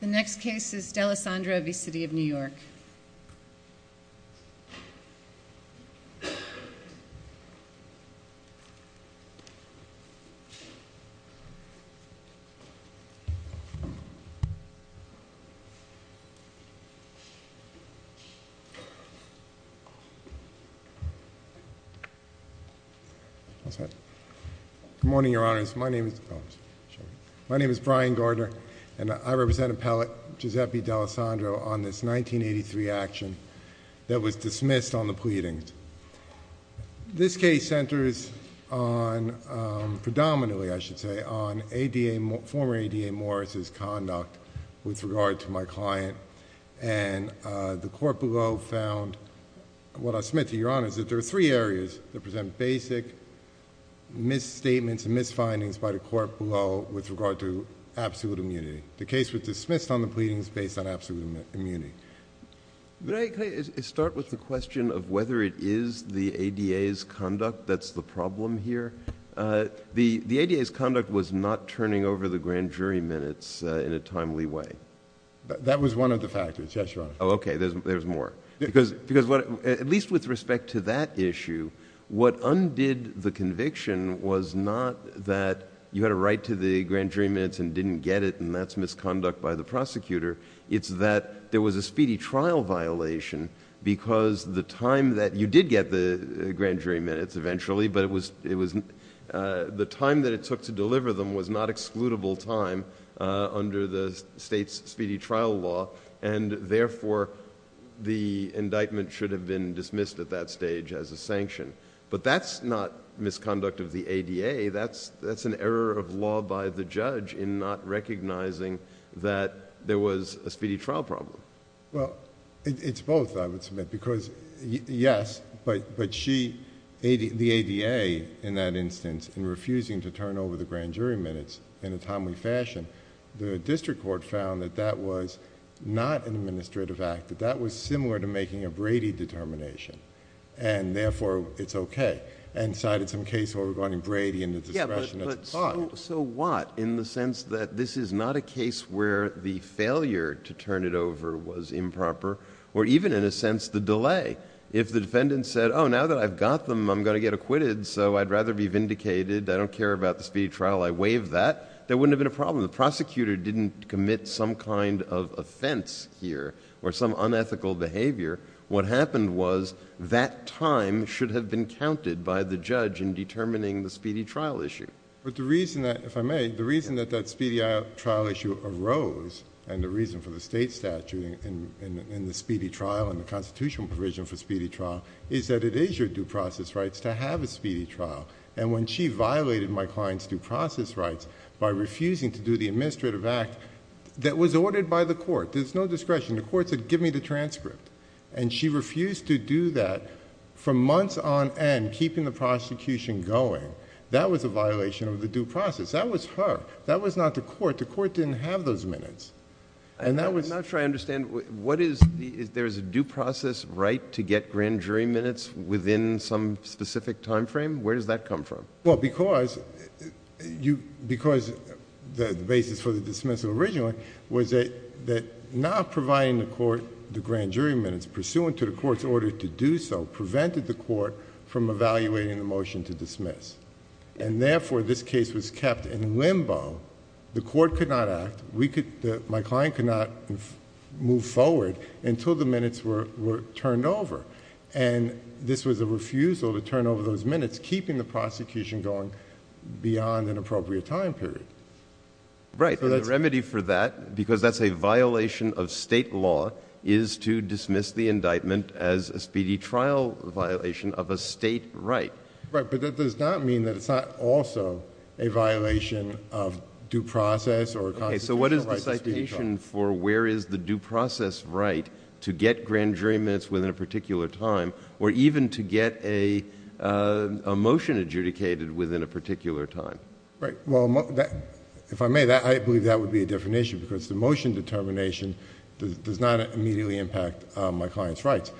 The next case is D'Alessandro v. City of New York. Good morning, your honors. My name is Brian Gardner and I represent appellate Giuseppe D'Alessandro on this 1983 action that was dismissed on the pleadings. This case centers on, predominantly I should say, on former ADA Morris's conduct with regard to my client. And the court below found, what I submit to your honors, that there are three areas that were dismissed on these findings by the court below with regard to absolute immunity. The case was dismissed on the pleadings based on absolute immunity. Could I start with the question of whether it is the ADA's conduct that's the problem here? The ADA's conduct was not turning over the grand jury minutes in a timely way. That was one of the factors, yes, your honor. Oh, okay. There's more. At least with respect to that issue, what undid the conviction was not that you had a right to the grand jury minutes and didn't get it and that's misconduct by the prosecutor. It's that there was a speedy trial violation because the time that you did get the grand jury minutes eventually, but the time that it took to deliver them was not excludable time under the state's speedy trial law and therefore, the indictment should have been dismissed at that stage as a sanction. But that's not misconduct of the ADA. That's an error of law by the judge in not recognizing that there was a speedy trial problem. Well, it's both, I would submit, because yes, but the ADA in that instance in refusing to turn it over in a timely fashion, the district court found that that was not an administrative act, but that was similar to making a Brady determination and therefore, it's okay, and cited some case where we're going to Brady and the discretion... But so what in the sense that this is not a case where the failure to turn it over was improper or even in a sense, the delay. If the defendant said, oh, now that I've got them, I'm going to get acquitted, so I'd rather be vindicated, I don't care about the speedy trial, I waive that, there wouldn't have been a problem. The prosecutor didn't commit some kind of offense here or some unethical behavior. What happened was that time should have been counted by the judge in determining the speedy trial issue. But the reason that, if I may, the reason that that speedy trial issue arose and the reason for the state statute in the speedy trial and the constitutional provision for speedy trial is that it is your due process rights to have a speedy trial. When she violated my client's due process rights by refusing to do the administrative act that was ordered by the court, there's no discretion. The court said, give me the transcript. She refused to do that for months on end, keeping the prosecution going. That was a violation of the due process. That was her. That was not the court. The court didn't have those minutes. That was... I'm not sure I understand. What is the... There's a due process right to get grand jury minutes within some specific time frame? Where does that come from? Well, because the basis for the dismissal originally was that not providing the court the grand jury minutes pursuant to the court's order to do so prevented the court from evaluating the motion to dismiss. Therefore, this case was kept in limbo. The court could not act. My client could not move forward until the minutes were turned over. This was a refusal to turn over those minutes, keeping the prosecution going beyond an appropriate time period. Right. The remedy for that, because that's a violation of state law, is to dismiss the indictment as a speedy trial violation of a state right. Right, but that does not mean that it's not also a violation of due process or a constitutional right to speedy trial. Okay, so what is the citation for where is the due process right to get grand jury minutes within a particular time or even to get a motion adjudicated within a particular time? Right. Well, if I may, I believe that would be a different issue because the motion determination does not immediately impact my client's rights.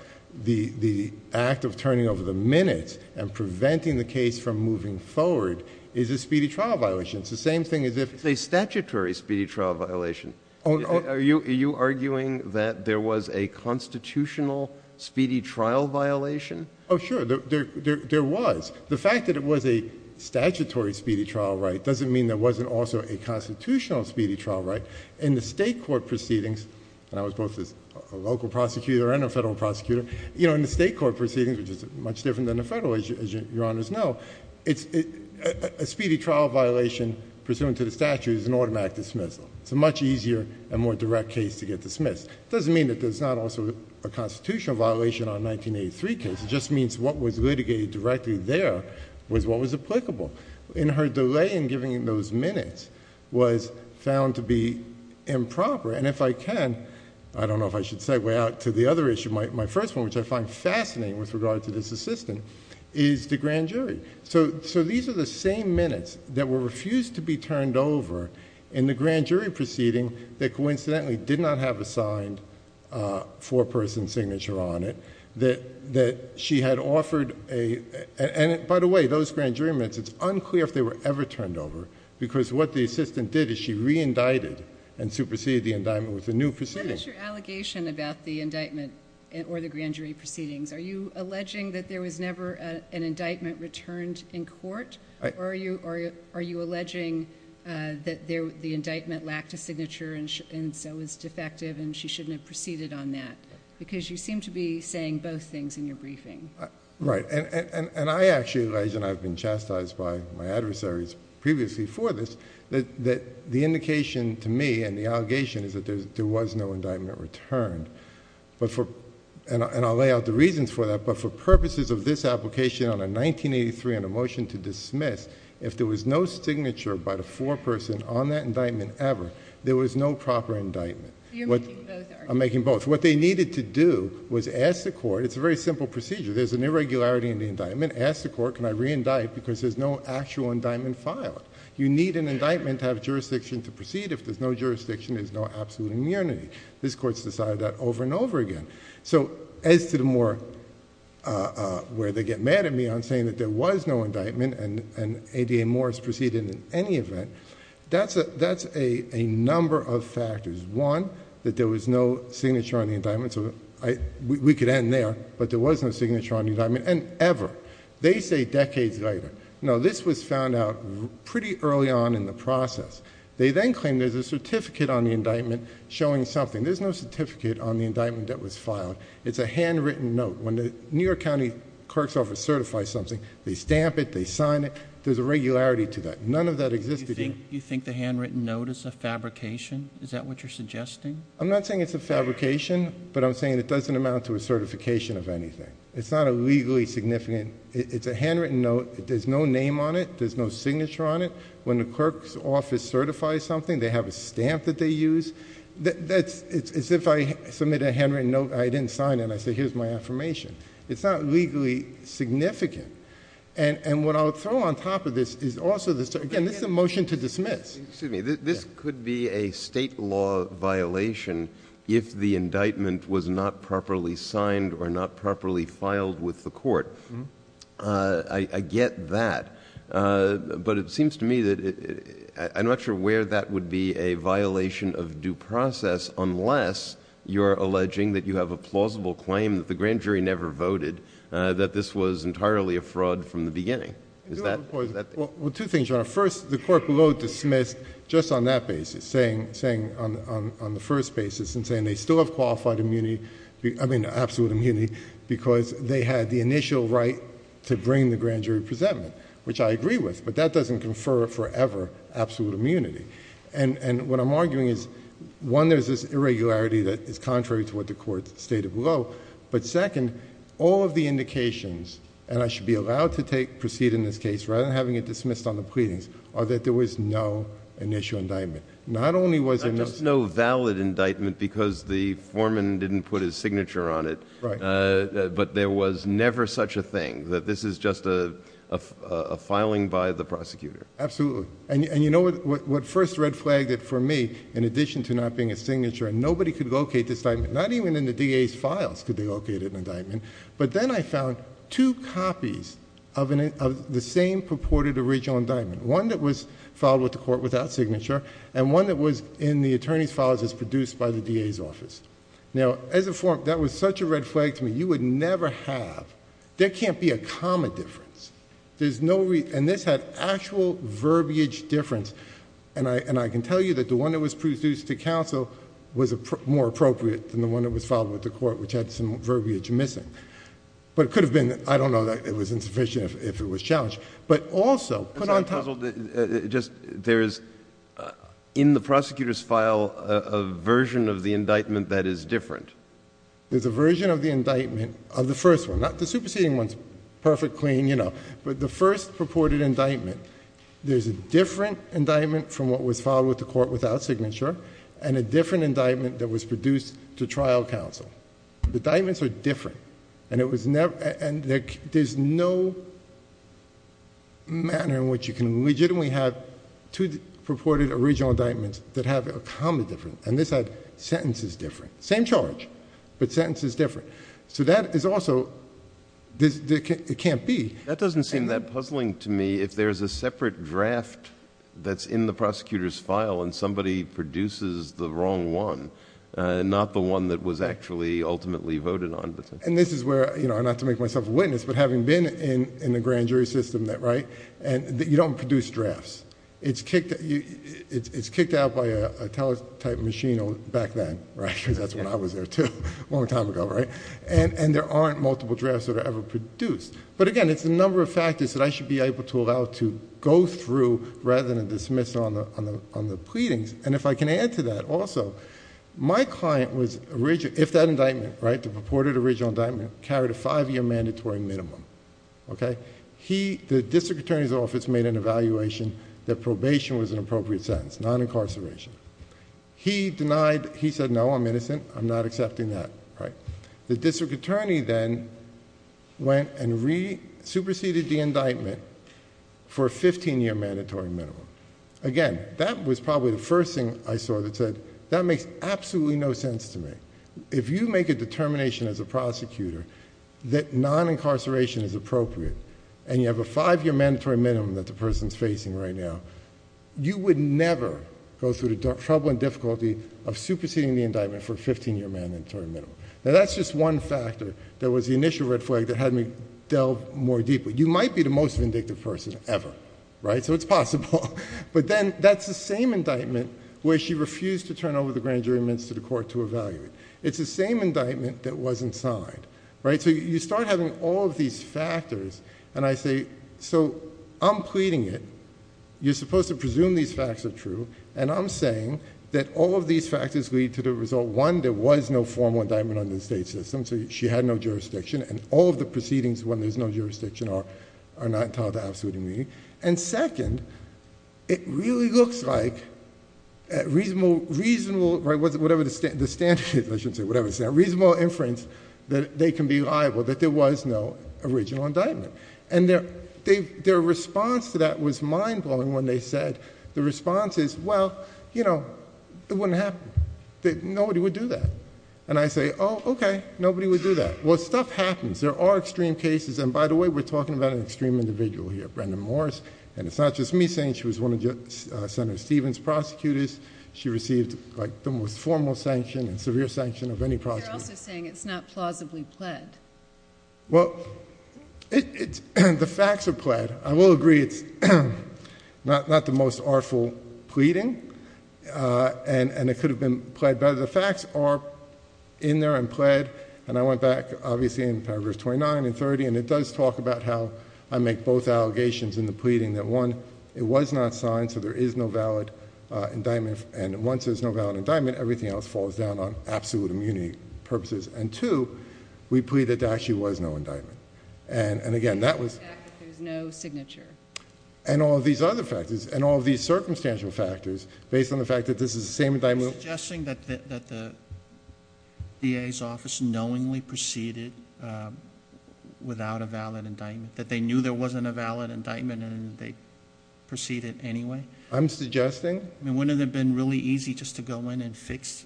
The act of turning over the minutes and preventing the case from moving forward is a speedy trial violation. It's the same thing as if... It's a statutory speedy trial violation. Are you arguing that there was a constitutional speedy trial violation? Oh, sure. There was. The fact that it was a statutory speedy trial right doesn't mean there wasn't also a constitutional speedy trial right. In the state court proceedings, and I was both a local prosecutor and a federal prosecutor, you know, in the state court proceedings, which is much different than the federal, as Your Honors know, a speedy trial violation pursuant to the statute is an automatic dismissal. It's a much easier and more direct case to get dismissed. It doesn't mean that there's not also a constitutional violation on a 1983 case. It just means what was litigated directly there was what was applicable. In her delay in giving those minutes was found to be improper, and if I can, I don't know if I should segue out to the other issue, my first one, which I find fascinating with regard to this assistant, is the grand jury. These are the same minutes that were refused to be turned over in the grand jury proceeding that coincidentally did not have a signed four-person signature on it, that she had offered a... and by the way, those grand jury minutes, it's unclear if they were ever turned over because what the assistant did is she re-indicted and superseded the indictment with a new proceeding. What is your allegation about the indictment or the grand jury proceedings? Are you alleging that there was never an indictment returned in court, or are you alleging that the indictment lacked a signature and so was defective and she shouldn't have proceeded on that? Because you seem to be saying both things in your briefing. Right. I actually allege, and I've been chastised by my adversaries previously for this, that the indication to me and the allegation is that there was no indictment returned. I'll lay out the reasons for that, but for purposes of this application on a motion to dismiss, if there was no signature by the four-person on that indictment ever, there was no proper indictment. You're making both arguments. I'm making both. What they needed to do was ask the court... it's a very simple procedure. There's an irregularity in the indictment. Ask the court, can I re-indict because there's no actual indictment filed. You need an indictment to have jurisdiction to proceed. If there's no jurisdiction, there's no absolute immunity. This court's decided that over and over again. As to the more... where they get mad at me on saying that there was no indictment and ADA Morris proceeded in any event, that's a number of factors. One, that there was no signature on the indictment. We could end there, but there was no signature on the indictment, and ever. They say decades later. This was found out pretty early on in the process. They then claim there's a certificate on the indictment showing something. There's no certificate on the indictment that was filed. It's a handwritten note. When the New York County clerk's office certifies something, they stamp it, they sign it. There's a regularity to that. None of that existed... You think the handwritten note is a fabrication? Is that what you're suggesting? I'm not saying it's a fabrication, but I'm saying it doesn't amount to a certification of anything. It's not a legally significant... it's a handwritten note. There's no name on it. There's no signature on it. When the clerk's office certifies something, they have a stamp that they use. It's as if I submit a handwritten note, I didn't sign it, and I say, here's my affirmation. It's not legally significant. What I'll throw on top of this is also... again, this is a motion to dismiss. Excuse me. This could be a state law violation if the indictment was not properly signed or not properly filed with the court. I get that. But it seems to me that... I'm not sure where that would be a violation of due process unless you're alleging that you have a plausible claim that the grand jury never voted, that this was entirely a fraud from the beginning. Is that... I do have, of course... Well, two things, Your Honor. First, the clerk will go to dismiss just on that basis, saying on the first basis and saying they still have qualified immunity... I mean, absolute immunity, because they had the initial right to bring the grand jury presentment, which I agree with, but that doesn't confer forever absolute immunity. What I'm arguing is, one, there's this irregularity that is contrary to what the court stated below, but second, all of the indications, and I should be allowed to proceed in this case rather than having it dismissed on the pleadings, are that there was no initial indictment. Not only was there... Not just no valid indictment because the foreman didn't put his signature on it, but there was never such a thing, that this is just a filing by the prosecutor. Absolutely. You know what first red flagged it for me, in addition to not being a signature, nobody could locate this indictment. Not even in the DA's files could they locate an indictment, but then I found two copies of the same purported original indictment, one that was filed with the court without signature and one that was in the attorney's files as produced by the DA's office. Now, as a foreman, that was such a red flag to me. You would never have... There can't be a comma difference. There's no... And this had actual verbiage difference, and I can tell you that the one that was produced to counsel was more appropriate than the one that was filed with the court, which had some verbiage missing. But it could have been, I don't know, that it was insufficient if it was challenged, but also... There's a version of the indictment, of the first one, not the superseding ones, perfect, clean, you know. But the first purported indictment, there's a different indictment from what was filed with the court without signature and a different indictment that was produced to trial counsel. The indictments are different, and it was never... And there's no manner in which you can legitimately have two purported original indictments that have a comma difference, and this had sentences different. Same charge, but sentences different. So that is also... It can't be. That doesn't seem that puzzling to me if there's a separate draft that's in the prosecutor's file and somebody produces the wrong one, and not the one that was actually ultimately voted on. And this is where, you know, not to make myself a witness, but having been in the grand jury system that... You don't produce drafts. It's kicked out by a teletype machine back then, right, because that's when I was there too, a long time ago, right? And there aren't multiple drafts that are ever produced. But again, it's the number of factors that I should be able to allow to go through rather than dismiss on the pleadings. And if I can add to that also, my client was... If that indictment, right, the purported original indictment, carried a five-year mandatory minimum, okay, the district attorney's office made an evaluation that probation was an appropriate sentence, non-incarceration. He denied. He said, no, I'm innocent. I'm not accepting that, right? The district attorney then went and superseded the indictment for a fifteen-year mandatory minimum. Again, that was probably the first thing I saw that said, that makes absolutely no sense to me. If you make a determination as a prosecutor that non-incarceration is appropriate and you have a five-year mandatory minimum that the person's facing right now, you would never go through the trouble and difficulty of superseding the indictment for a fifteen-year mandatory minimum. Now, that's just one factor that was the initial red flag that had me delve more deeply. You might be the most vindictive person ever, right, so it's possible. But then, that's the same indictment where she refused to turn over the grand jury minutes to the court to evaluate. It's the same indictment that wasn't signed, right? So, you start having all of these factors, and I say, so I'm pleading it. You're supposed to presume these facts are true, and I'm saying that all of these factors lead to the result, one, there was no formal indictment under the state system, so she had no jurisdiction, and all of the proceedings when there's no jurisdiction are not entitled to absolute immunity. And second, it really looks like a reasonable... the standard, I shouldn't say, a reasonable inference that they can be liable, that there was no original indictment. And their response to that was mind-blowing when they said, the response is, well, you know, it wouldn't happen. Nobody would do that. And I say, oh, okay, nobody would do that. Well, stuff happens. There are extreme cases, and by the way, we're talking about an extreme individual here, Brenda Morris, and it's not just me saying she was one of Senator Stevens' prosecutors. She received like the most formal sanction and severe sanction of any prosecutor. But you're also saying it's not plausibly pled. Well, the facts are pled. I will agree it's not the most artful pleading, and it could have been pled, but the facts are in there and pled, and I went back, obviously, in paragraphs 29 and 30, and it does talk about how I make both allegations in the pleading, that one, it was not signed, so there is no valid indictment, and once there's no valid indictment, everything else falls down on absolute immunity purposes, and two, we plead that there actually was no indictment. And again, that was- That there's no signature. And all these other factors, and all these circumstantial factors, based on the fact that this is the same indictment- Are you suggesting that the DA's office knowingly proceeded without a valid indictment, that they knew there wasn't a valid indictment, and they proceeded anyway? I'm suggesting- Wouldn't it have been really easy just to go in and fix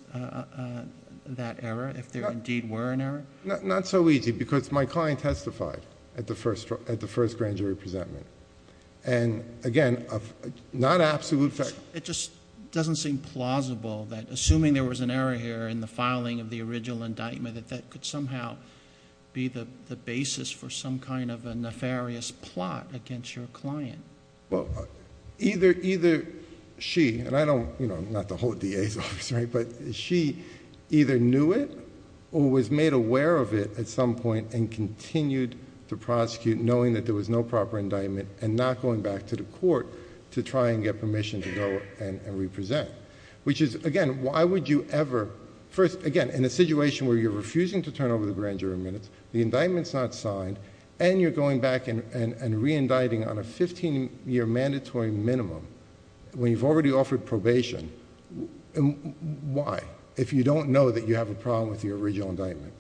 that error, if there indeed were an error? Not so easy, because my client testified at the first grand jury presentment, and again, not absolute fact- It just doesn't seem plausible that, assuming there was an error here in the filing of the original indictment, that that could somehow be the basis for some kind of a nefarious plot against your client. Well, either she, and I don't, you know, I'm not the whole DA's office, right, but she either knew it, or was made aware of it at some point, and continued to prosecute, knowing that there was no proper indictment, and not going back to the court to try and get permission to go and represent. Which is, again, why would you ever... First, again, in a situation where you're refusing to turn over the grand jury minutes, the indictment's not signed, and you're going back and re-indicting on a 15-year mandatory minimum, when you've already offered probation, why? If you don't know that you have a problem with your original indictment.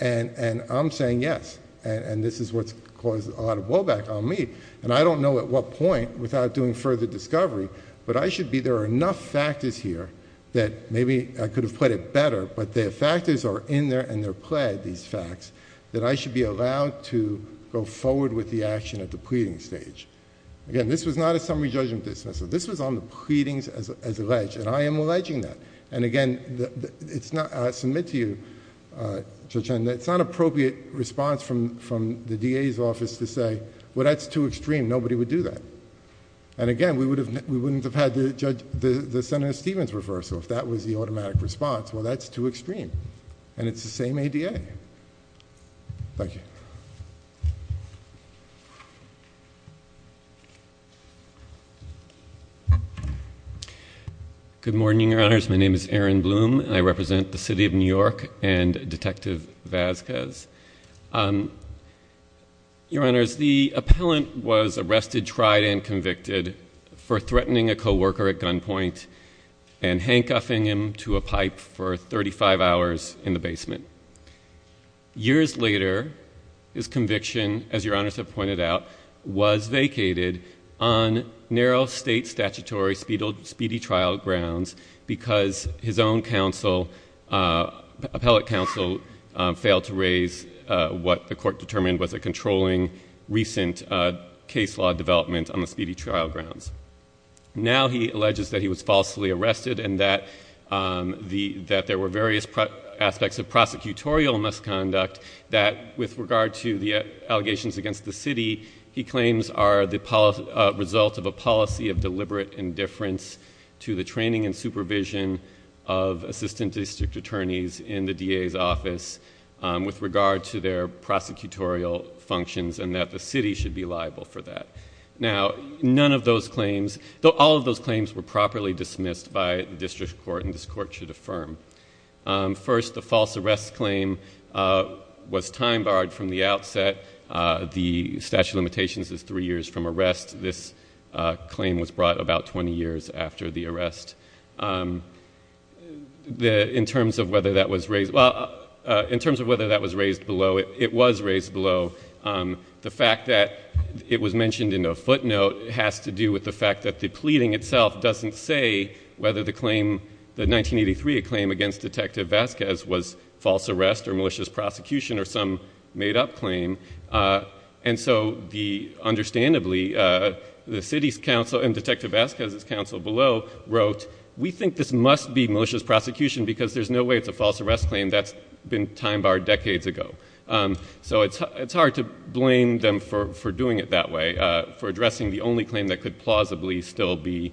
And I'm saying yes, and this is what's caused a lot of woe back on me, and I don't know at what point, without doing further discovery, but I should be... There are enough factors here that, maybe I could have put it better, but the factors are in there, and they're Again, this was not a summary judgment dismissal. This was on the pleadings as alleged, and I am alleging that. And again, it's not... I submit to you, Judge Henn, that it's not an appropriate response from the DA's office to say, well, that's too extreme, nobody would do that. And again, we wouldn't have had the Senator Stevens reversal if that was the automatic response. Well, that's too extreme, and it's the same ADA. Okay. Thank you. Good morning, Your Honors. My name is Aaron Bloom, and I represent the City of New York and Detective Vazquez. Your Honors, the appellant was arrested, tried, and convicted for threatening a coworker at the basement. Years later, his conviction, as Your Honors have pointed out, was vacated on narrow state statutory speedy trial grounds because his own counsel, appellate counsel, failed to raise what the court determined was a controlling, recent case law development on the speedy trial grounds. Now, he alleges that he was falsely arrested and that there were various aspects of prosecutorial misconduct that, with regard to the allegations against the city, he claims are the result of a policy of deliberate indifference to the training and supervision of assistant district attorneys in the DA's office with regard to their prosecutorial functions and that the city should be liable for that. Now, none of those claims, though all of those claims were properly dismissed by the district court, and this court should affirm. First, the false arrest claim was time-barred from the outset. The statute of limitations is three years from arrest. This claim was brought about 20 years after the arrest. In terms of whether that was raised, well, in terms of whether that was raised below, it was raised below. The fact that it was mentioned in a footnote has to do with the fact that the pleading itself doesn't say whether the 1983 claim against Detective Vasquez was false arrest or malicious prosecution or some made-up claim, and so, understandably, the city's counsel and Detective Vasquez's counsel below wrote, we think this must be malicious prosecution because there's no way it's a false arrest claim. That's been time-barred decades ago. So it's hard to blame them for doing it that way, for addressing the only claim that could plausibly still be,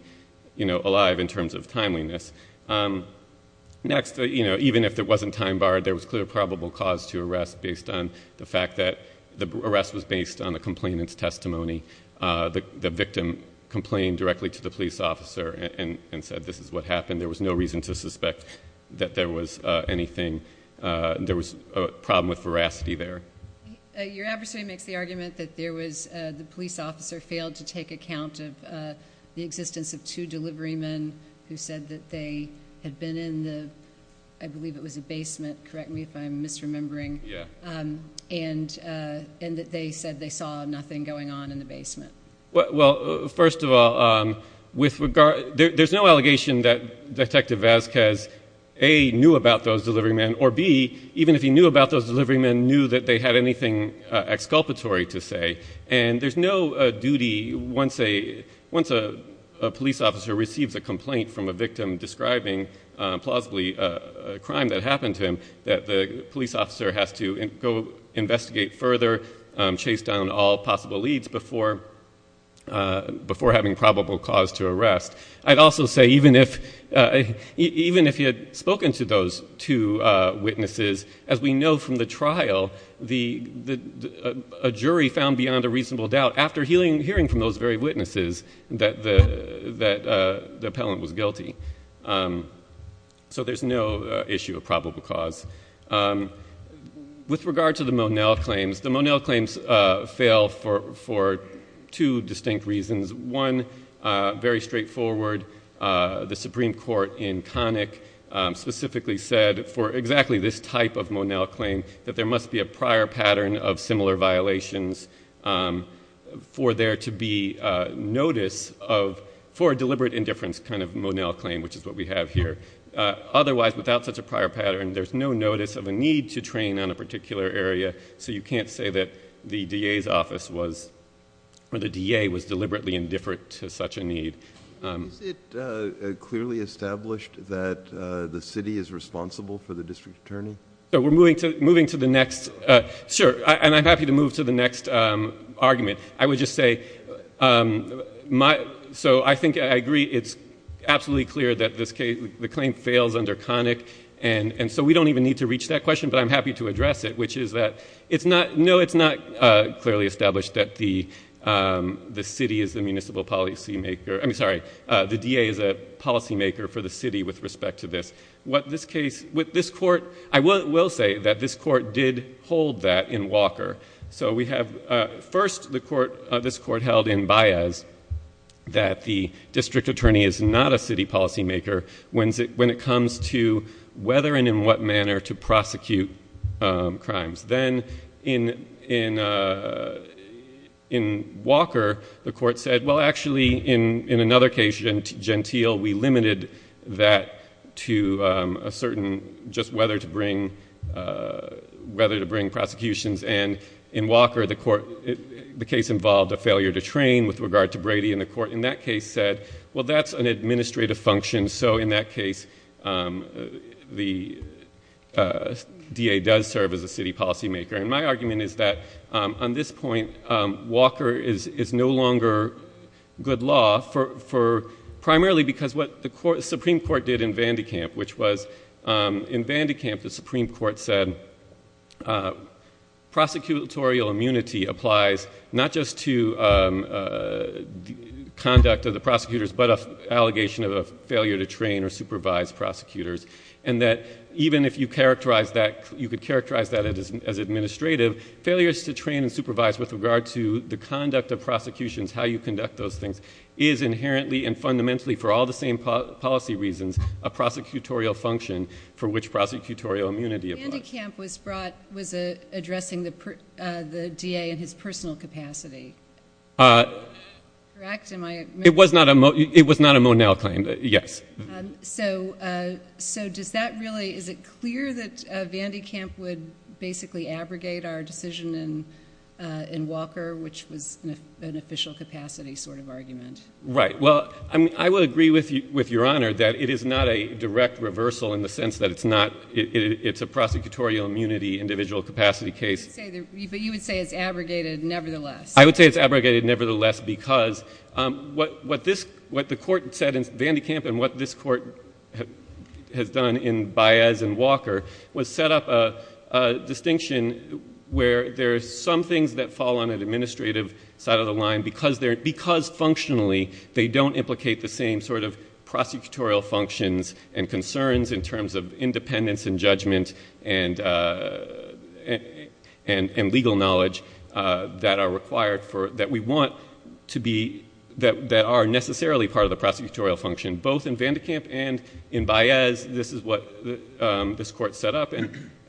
you know, alive in terms of timeliness. Next, you know, even if it wasn't time-barred, there was clear probable cause to arrest based on the fact that the arrest was based on the complainant's testimony. The victim complained directly to the police officer and said this is what happened. There was no reason to suspect that there was anything. There was a problem with veracity there. Your adversary makes the argument that there was, the police officer failed to take account of the existence of two delivery men who said that they had been in the, I believe it was a basement, correct me if I'm misremembering, and that they said they saw nothing going on in the basement. Well, first of all, with regard, there's no allegation that Detective Vasquez, A, knew about those delivery men, or B, even if he knew about those delivery men, knew that they had anything exculpatory to say. And there's no duty, once a police officer receives a complaint from a victim describing plausibly a crime that happened to him, that the police officer has to go investigate further, chase down all possible leads before having probable cause to arrest. I'd also say even if he had spoken to those two witnesses, as we know from the trial, a jury found beyond a reasonable doubt, after hearing from those very witnesses, that the appellant was guilty. So there's no issue of probable cause. With regard to the Monell claims, the Monell claims fail for two distinct reasons. One, very straightforward, the Supreme Court in Connick specifically said for exactly this type of Monell claim, that there must be a prior pattern of similar violations for there to be notice of, for a deliberate indifference kind of Monell claim, which is what we have here. Otherwise, without such a prior pattern, there's no notice of a need to train on a particular area. So you can't say that the DA's office was, or the DA was deliberately indifferent to such a need. Is it clearly established that the city is responsible for the district attorney? So we're moving to the next, sure, and I'm happy to move to the next argument. I would just say, so I think I agree, it's absolutely clear that this case, the claim fails under Connick, and so we don't even need to reach that question, but I'm happy to address it, which is that it's not, no, it's not clearly established that the city is the municipal policymaker, I mean, sorry, the DA is a policymaker for the city with respect to this. What this case, what this court, I will say that this court did hold that in Walker. So we have, first the court, this court held in Baez, that the district attorney is not a city policymaker when it comes to whether and in what manner to prosecute crimes. Then in Walker, the court said, well, actually, in another case, Gentile, we limited that to a certain, just whether to bring prosecutions, and in Walker, the court, the case involved a failure to train with regard to Brady, and the court in that case said, well, that's an administrative function, so in that case, the DA does serve as a city policymaker, and my argument is that on this point, Walker is no longer good law for primarily because what the Supreme Court did in Vandekamp, which was in Vandekamp, the Supreme Court said prosecutorial immunity applies not just to conduct of the prosecutors, but an allegation of a failure to train or supervise prosecutors, and that even if you characterize that, you could characterize that as administrative, failures to train and supervise with regard to the conduct of prosecutions, how you conduct those things, is inherently and fundamentally, for all the same policy reasons, a prosecutorial function for which prosecutorial immunity applies. Vandekamp was brought, was addressing the DA in his personal capacity, correct? It was not a Monell claim, yes. So does that really, is it clear that Vandekamp would basically abrogate our decision in Walker, which was an official capacity sort of argument? Right, well, I would agree with Your Honor that it is not a direct reversal in the sense that it's not, it's a prosecutorial immunity individual capacity case. But you would say it's abrogated nevertheless. I would say it's abrogated nevertheless because what this, what the Court said in Vandekamp and what this Court has done in Baez and Walker was set up a distinction where there are some things that fall on an administrative side of the line because functionally, they don't implicate the same sort of prosecutorial functions and concerns in terms of independence and judgment and legal knowledge that are required for, that we want to be, that are necessarily part of the prosecutorial function. Both in Vandekamp and in Baez, this is what this Court set up.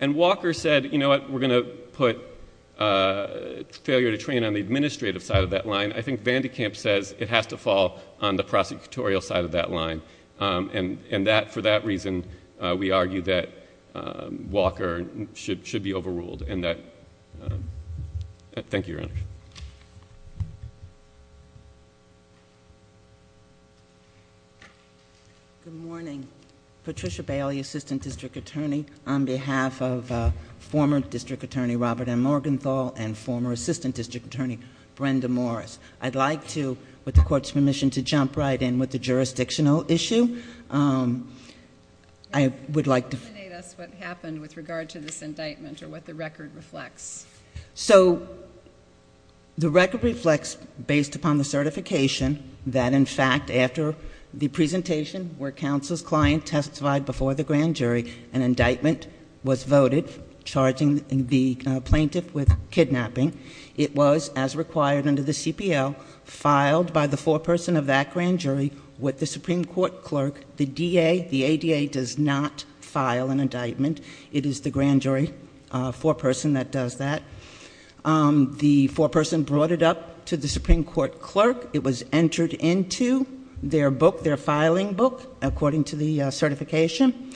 And Walker said, you know what, we're going to put failure to train on the administrative side of that line. I think Vandekamp says it has to fall on the prosecutorial side of that line. And that, for that reason, we argue that Walker should be overruled and that... Thank you, Your Honor. Good morning. Patricia Bailey, Assistant District Attorney on behalf of former District Attorney Robert M. Morgenthau and former Assistant District Attorney Brenda Morris. I'd like to, with the Court's permission, to jump right in with the jurisdictional issue. I would like to... Can you elucidate us what happened with regard to this indictment or what the record reflects? So the record reflects, based upon the certification, that, in fact, after the presentation where counsel's client testified before the grand jury, an indictment was voted charging the plaintiff with kidnapping. It was, as required under the CPL, filed by the foreperson of that grand jury with the Supreme Court clerk. The DA, the ADA, does not file an indictment. It is the grand jury foreperson that does that. The foreperson brought it up to the Supreme Court clerk. It was entered into their book, their filing book, according to the certification.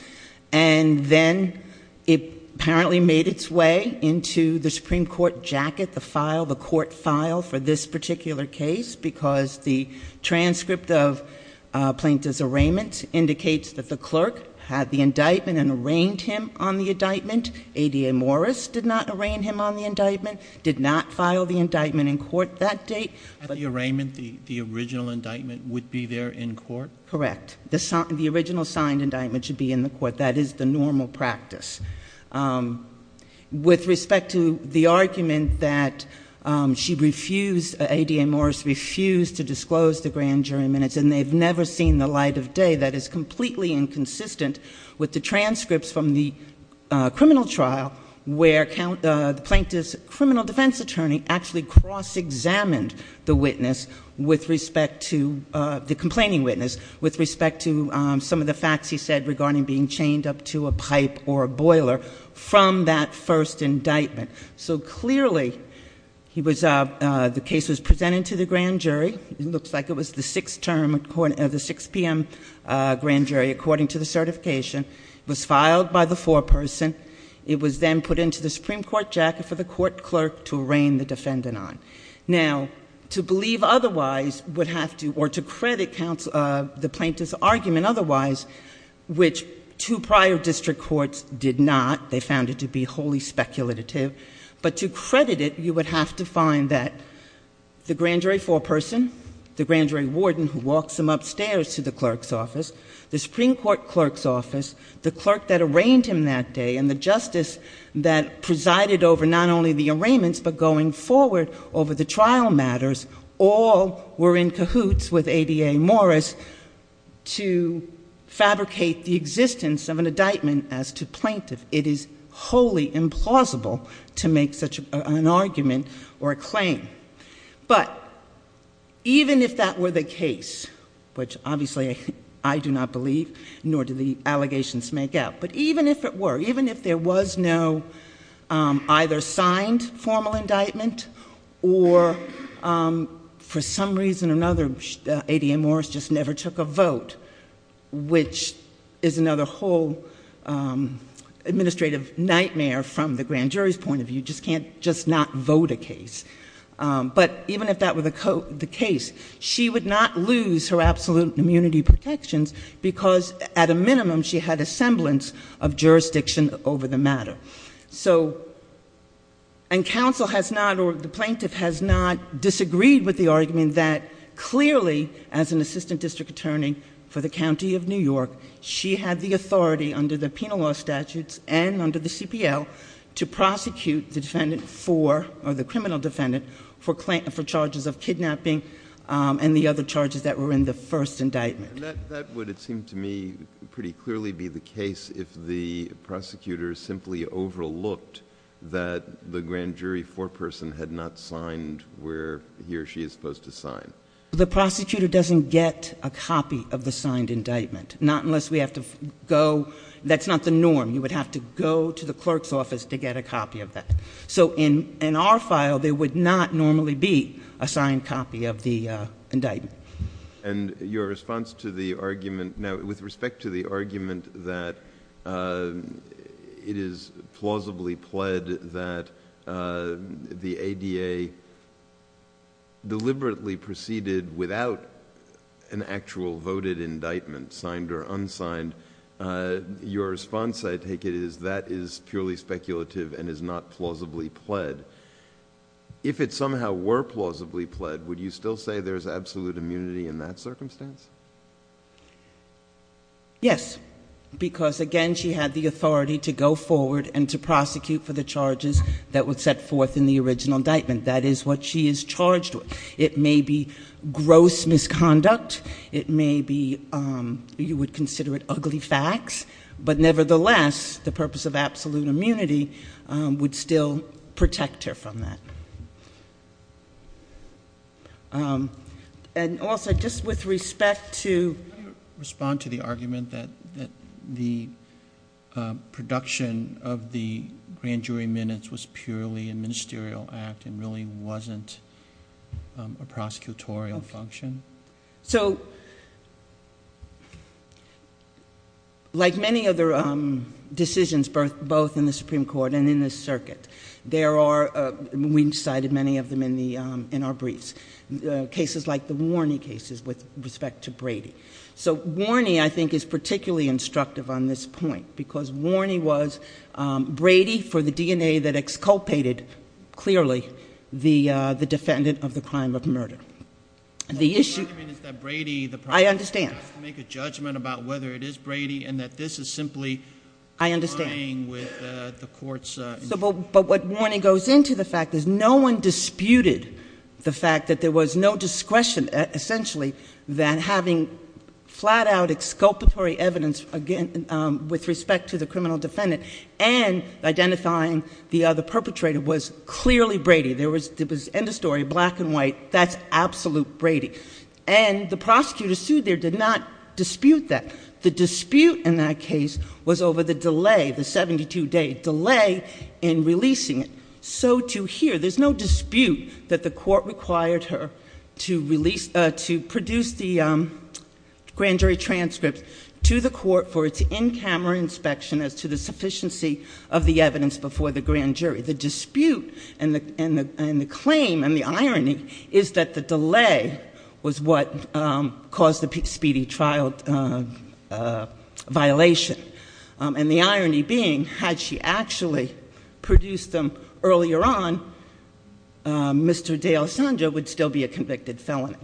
And then it apparently made its way into the Supreme Court jacket, the file, the court file for this particular case because the transcript of Plaintiff's arraignment indicates that the clerk had the indictment and arraigned him on the indictment. ADA Morris did not arraign him on the indictment, did not file the indictment in court that date. At the arraignment, the original indictment would be there in court? Correct. The original signed indictment should be in the court. That is the normal practice. With respect to the argument that she refused, ADA Morris refused to disclose the grand jury minutes and they've never seen the light of day, that is completely inconsistent with the transcripts from the criminal trial where the plaintiff's criminal defense attorney actually cross-examined the witness with respect to, the complaining witness, with respect to some of the facts he said regarding being chained up to a pipe or a boiler from that first indictment. So clearly, the case was presented to the grand jury, it looks like it was the 6 p.m. grand jury according to the certification, was filed by the foreperson, it was then put into the Supreme Court jacket for the court clerk to arraign the defendant on. Now, to believe otherwise would have to, or to credit the plaintiff's argument otherwise, which two prior district courts did not, they found it to be wholly speculative, but to credit it, you would have to find that the grand jury foreperson, the grand jury warden who walks him upstairs to the clerk's office, the Supreme Court clerk's office, the clerk that arraigned him that day and the justice that presided over not only the arraignments but going forward over the trial matters, all were in cahoots with ABA Morris to fabricate the existence of an indictment as to plaintiff. It is wholly implausible to make such an argument or a claim. But even if that were the case, which obviously I do not believe, nor do the allegations make up, but even if it were, even if there was no either signed formal indictment or for some reason or another ABA Morris just never took a vote, which is another whole administrative nightmare from the grand jury's point of view, you just can't just not vote a case. But even if that were the case, she would not lose her absolute immunity protections because at a minimum she had a semblance of jurisdiction over the matter. So and counsel has not or the plaintiff has not disagreed with the argument that clearly as an assistant district attorney for the county of New York, she had the authority under the penal law statutes and under the CPL to prosecute the defendant for or the criminal defendant for charges of kidnapping and the other charges that were in the first indictment. And that, that would, it seemed to me pretty clearly be the case if the prosecutor simply overlooked that the grand jury foreperson had not signed where he or she is supposed to sign. The prosecutor doesn't get a copy of the signed indictment, not unless we have to go. That's not the norm. You would have to go to the clerk's office to get a copy of that. So in, in our file, there would not normally be a signed copy of the indictment. Okay. And your response to the argument, now with respect to the argument that it is plausibly pled that the ADA deliberately proceeded without an actual voted indictment, signed or unsigned, your response I take it is that is purely speculative and is not plausibly pled. If it somehow were plausibly pled, would you still say there's absolute immunity in that circumstance? Yes, because again, she had the authority to go forward and to prosecute for the charges that would set forth in the original indictment. That is what she is charged with. It may be gross misconduct. It may be, you would consider it ugly facts, but nevertheless, the purpose of absolute immunity is to protect her from that. And also, just with respect to... Could you respond to the argument that, that the production of the grand jury minutes was purely a ministerial act and really wasn't a prosecutorial function? So like many other decisions, both in the Supreme Court and in the circuit, there are, we cited many of them in our briefs, cases like the Warney cases with respect to Brady. So Warney, I think, is particularly instructive on this point because Warney was Brady for the DNA that exculpated, clearly, the defendant of the crime of murder. The issue... So the argument is that Brady... I understand.... has to make a judgment about whether it is Brady and that this is simply... I understand.... complying with the court's... But what Warney goes into the fact is no one disputed the fact that there was no discretion, essentially, that having flat out exculpatory evidence with respect to the criminal defendant and identifying the other perpetrator was clearly Brady. There was, end of story, black and white, that's absolute Brady. And the prosecutor sued there did not dispute that. The dispute in that case was over the delay, the 72-day delay in releasing it. So to hear, there's no dispute that the court required her to release, to produce the grand jury transcript to the court for its in-camera inspection as to the sufficiency of the evidence before the grand jury. The dispute and the claim and the irony is that the delay was what caused the speedy trial violation. And the irony being, had she actually produced them earlier on, Mr. Dale Sanger would still be a convicted felony.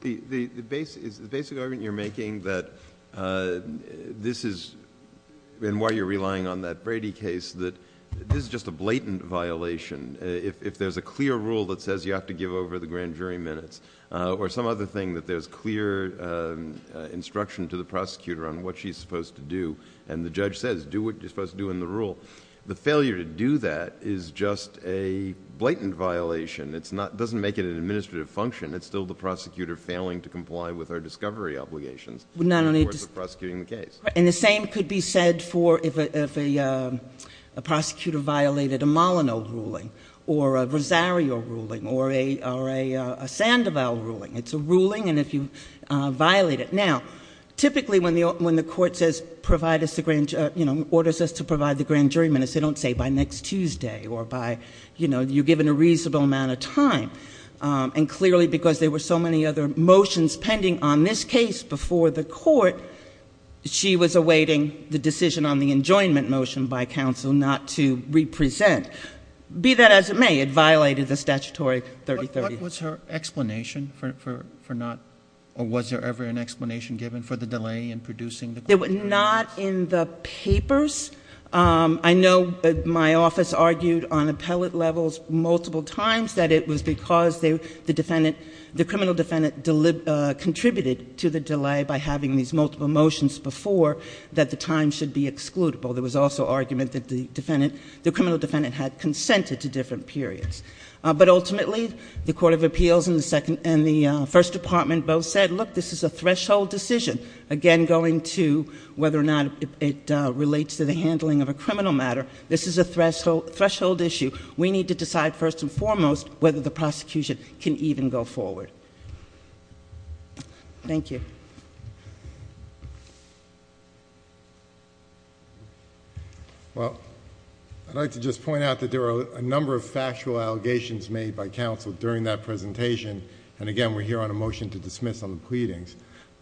The basic argument you're making that this is... and why you're relying on that Brady case, that this is just a blatant violation. If there's a clear rule that says you have to give over the grand jury minutes or some other thing that there's clear instruction to the prosecutor on what she's supposed to do and the judge says, do what you're supposed to do in the rule, the failure to do that is just a blatant violation. It doesn't make it an administrative function. It's still the prosecutor failing to comply with our discovery obligations in the course of prosecuting the case. And the same could be said for if a prosecutor violated a Molyneux ruling or a Rosario ruling or a Sandoval ruling. It's a ruling and if you violate it. Now, typically when the court says, orders us to provide the grand jury minutes, they don't say by next Tuesday or by, you know, you're given a reasonable amount of time. And clearly because there were so many other motions pending on this case before the court, she was awaiting the decision on the enjoinment motion by counsel not to represent. Be that as it may, it violated the statutory 3030. What was her explanation for not, or was there ever an explanation given for the delay in producing the? They were not in the papers. I know my office argued on appellate levels multiple times that it was because the defendant, the criminal defendant, contributed to the delay by having these multiple motions before that the time should be excludable. There was also argument that the defendant, the criminal defendant, had consented to different periods. But ultimately, the court of appeals and the first department both said, look, this is a threshold decision, again going to whether or not it relates to the handling of a criminal matter. This is a threshold issue. We need to decide first and foremost whether the prosecution can even go forward. Thank you. Well, I'd like to just point out that there are a number of factual allegations made by counsel during that presentation. And again, we're here on a motion to dismiss on the pleadings.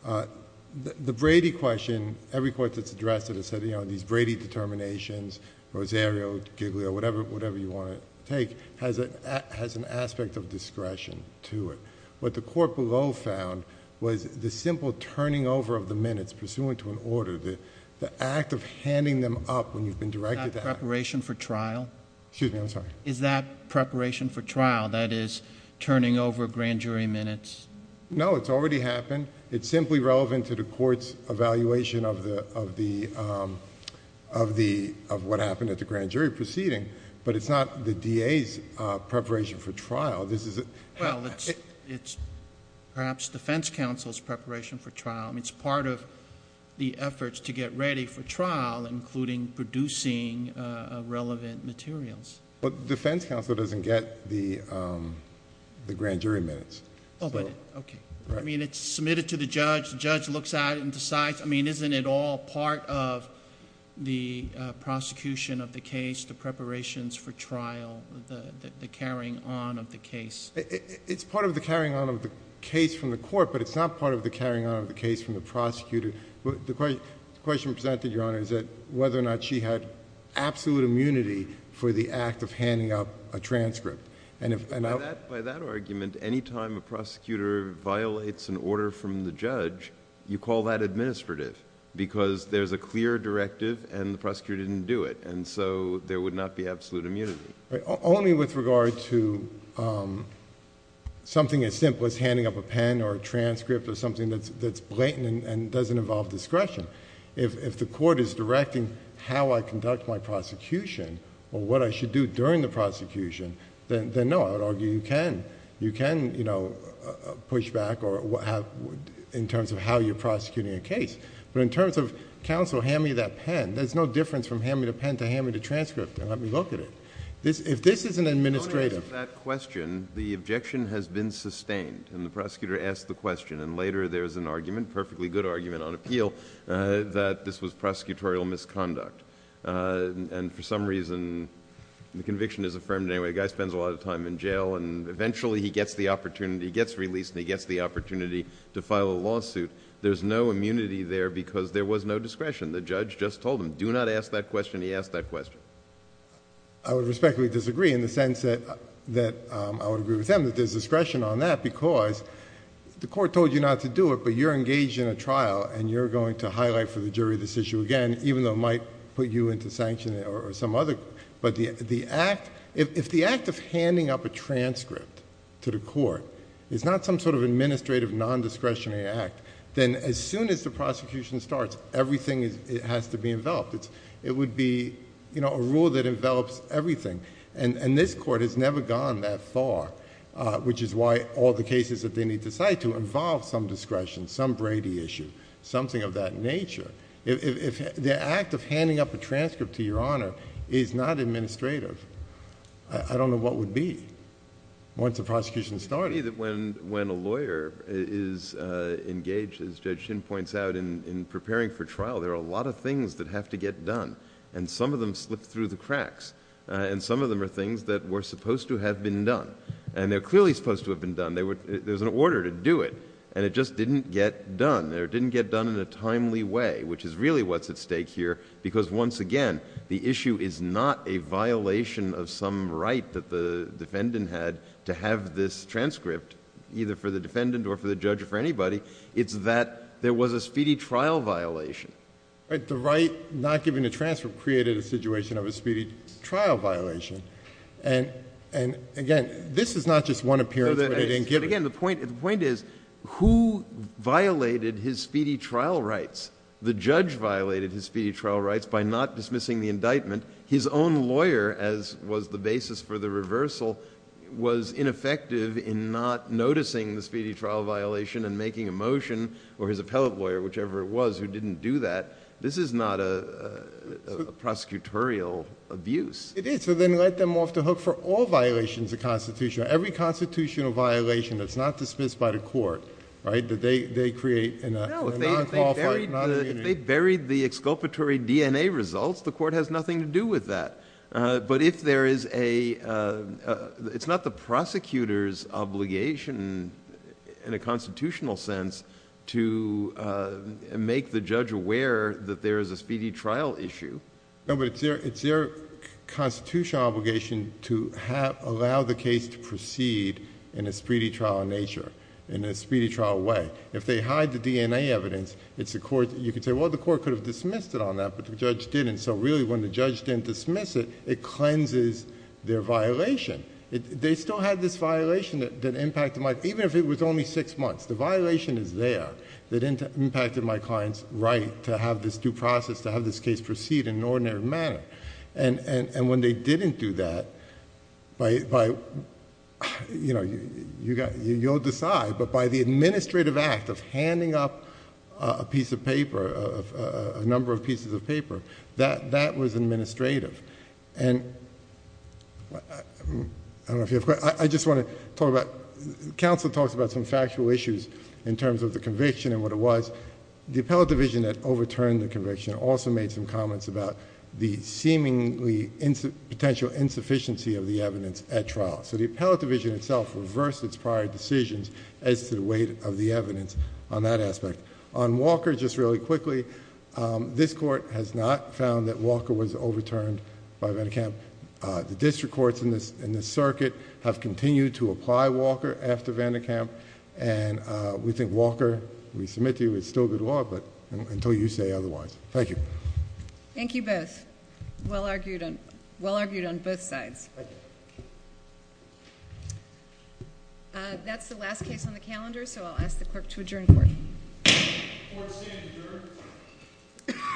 The Brady question, every court that's addressed it has said, you know, these Brady determinations, Rosario, Giglio, whatever you want to take, has an aspect of discretion to it. What the court below found was the simple turning over of the minutes pursuant to an order, the act of handing them up when you've been directed to act... Is that preparation for trial? Excuse me, I'm sorry. Is that preparation for trial, that is turning over grand jury minutes? No, it's already happened. It's simply relevant to the court's evaluation of what happened at the grand jury proceeding. But it's not the DA's preparation for trial. This is... Well, it's perhaps defense counsel's preparation for trial. I mean, it's part of the efforts to get ready for trial, including producing relevant materials. Well, defense counsel doesn't get the grand jury minutes. Okay. I mean, it's submitted to the judge. The judge looks at it and decides... I mean, isn't it all part of the prosecution of the case, the preparations for trial, the carrying on of the case? It's part of the carrying on of the case from the court, but it's not part of the carrying on of the case from the prosecutor. The question presented, Your Honor, is that whether or not she had absolute immunity for any time a prosecutor violates an order from the judge, you call that administrative because there's a clear directive and the prosecutor didn't do it, and so there would not be absolute immunity. Only with regard to something as simple as handing up a pen or a transcript or something that's blatant and doesn't involve discretion. If the court is directing how I conduct my prosecution or what I should do during the prosecution, then no, I would argue you can push back in terms of how you're prosecuting a case, but in terms of counsel, hand me that pen, there's no difference from hand me the pen to hand me the transcript and let me look at it. If this is an administrative... The only reason for that question, the objection has been sustained and the prosecutor asked the question, and later there's an argument, perfectly good argument on appeal, that this was prosecutorial misconduct, and for some reason, the conviction is affirmed anyway, the guy spends a lot of time in jail and eventually he gets the opportunity, he gets released and he gets the opportunity to file a lawsuit, there's no immunity there because there was no discretion. The judge just told him, do not ask that question, he asked that question. I would respectfully disagree in the sense that I would agree with him that there's discretion on that because the court told you not to do it, but you're engaged in a trial and you're going to highlight for the jury this issue again, even though it might put you into sanction or some other... If the act of handing up a transcript to the court is not some sort of administrative non-discretionary act, then as soon as the prosecution starts, everything has to be enveloped. It would be a rule that envelops everything, and this court has never gone that far, which is why all the cases that they need to cite to involve some discretion, some Brady issue, something of that nature. If the act of handing up a transcript to your Honor is not administrative, I don't know what would be once the prosecution started. I agree that when a lawyer is engaged, as Judge Shin points out, in preparing for trial, there are a lot of things that have to get done, and some of them slipped through the cracks, and some of them are things that were supposed to have been done, and they're clearly supposed to have been done. There's an order to do it, and it just didn't get done. It didn't get done in a timely way, which is really what's at stake here, because once again, the issue is not a violation of some right that the defendant had to have this transcript, either for the defendant or for the judge or for anybody. It's that there was a speedy trial violation. The right not giving the transcript created a situation of a speedy trial violation, and again, this is not just one appearance where they didn't give it. Again, the point is, who violated his speedy trial rights? The judge violated his speedy trial rights by not dismissing the indictment. His own lawyer, as was the basis for the reversal, was ineffective in not noticing the speedy trial violation and making a motion, or his appellate lawyer, whichever it was, who didn't do that. This is not a prosecutorial abuse. It is, so then let them off the hook for all violations of Constitution. Every constitutional violation that's not dismissed by the court, that they create in a non-qualified...... If they buried the exculpatory DNA results, the court has nothing to do with that, but if there is a... it's not the prosecutor's obligation in a constitutional sense to make the judge aware that there is a speedy trial issue. No, but it's their constitutional obligation to allow the case to proceed in a speedy trial nature, in a speedy trial way. If they hide the DNA evidence, it's the court... you could say, well, the court could have dismissed it on that, but the judge didn't, so really when the judge didn't dismiss it, it cleanses their violation. They still have this violation that impacted my... even if it was only six months, the violation is there that impacted my client's right to have this due process, to have this case proceed in an ordinary manner. When they didn't do that, by... you'll decide, but by the administrative act of handing up a piece of paper, a number of pieces of paper, that was administrative. I don't know if you have... I just want to talk about... counsel talks about some factual issues in terms of the conviction and what it was. The appellate division that overturned the conviction also made some comments about the seemingly potential insufficiency of the evidence at trial. The appellate division itself reversed its prior decisions as to the weight of the evidence on that aspect. On Walker, just really quickly, this court has not found that Walker was overturned by Vandekamp. The district courts in this circuit have continued to apply Walker after Vandekamp. We think Walker, we submit to you, is still good law, but until you say otherwise. Thank you. Thank you both. Well argued on both sides. That's the last case on the calendar, so I'll ask the clerk to adjourn the court. The court is adjourned.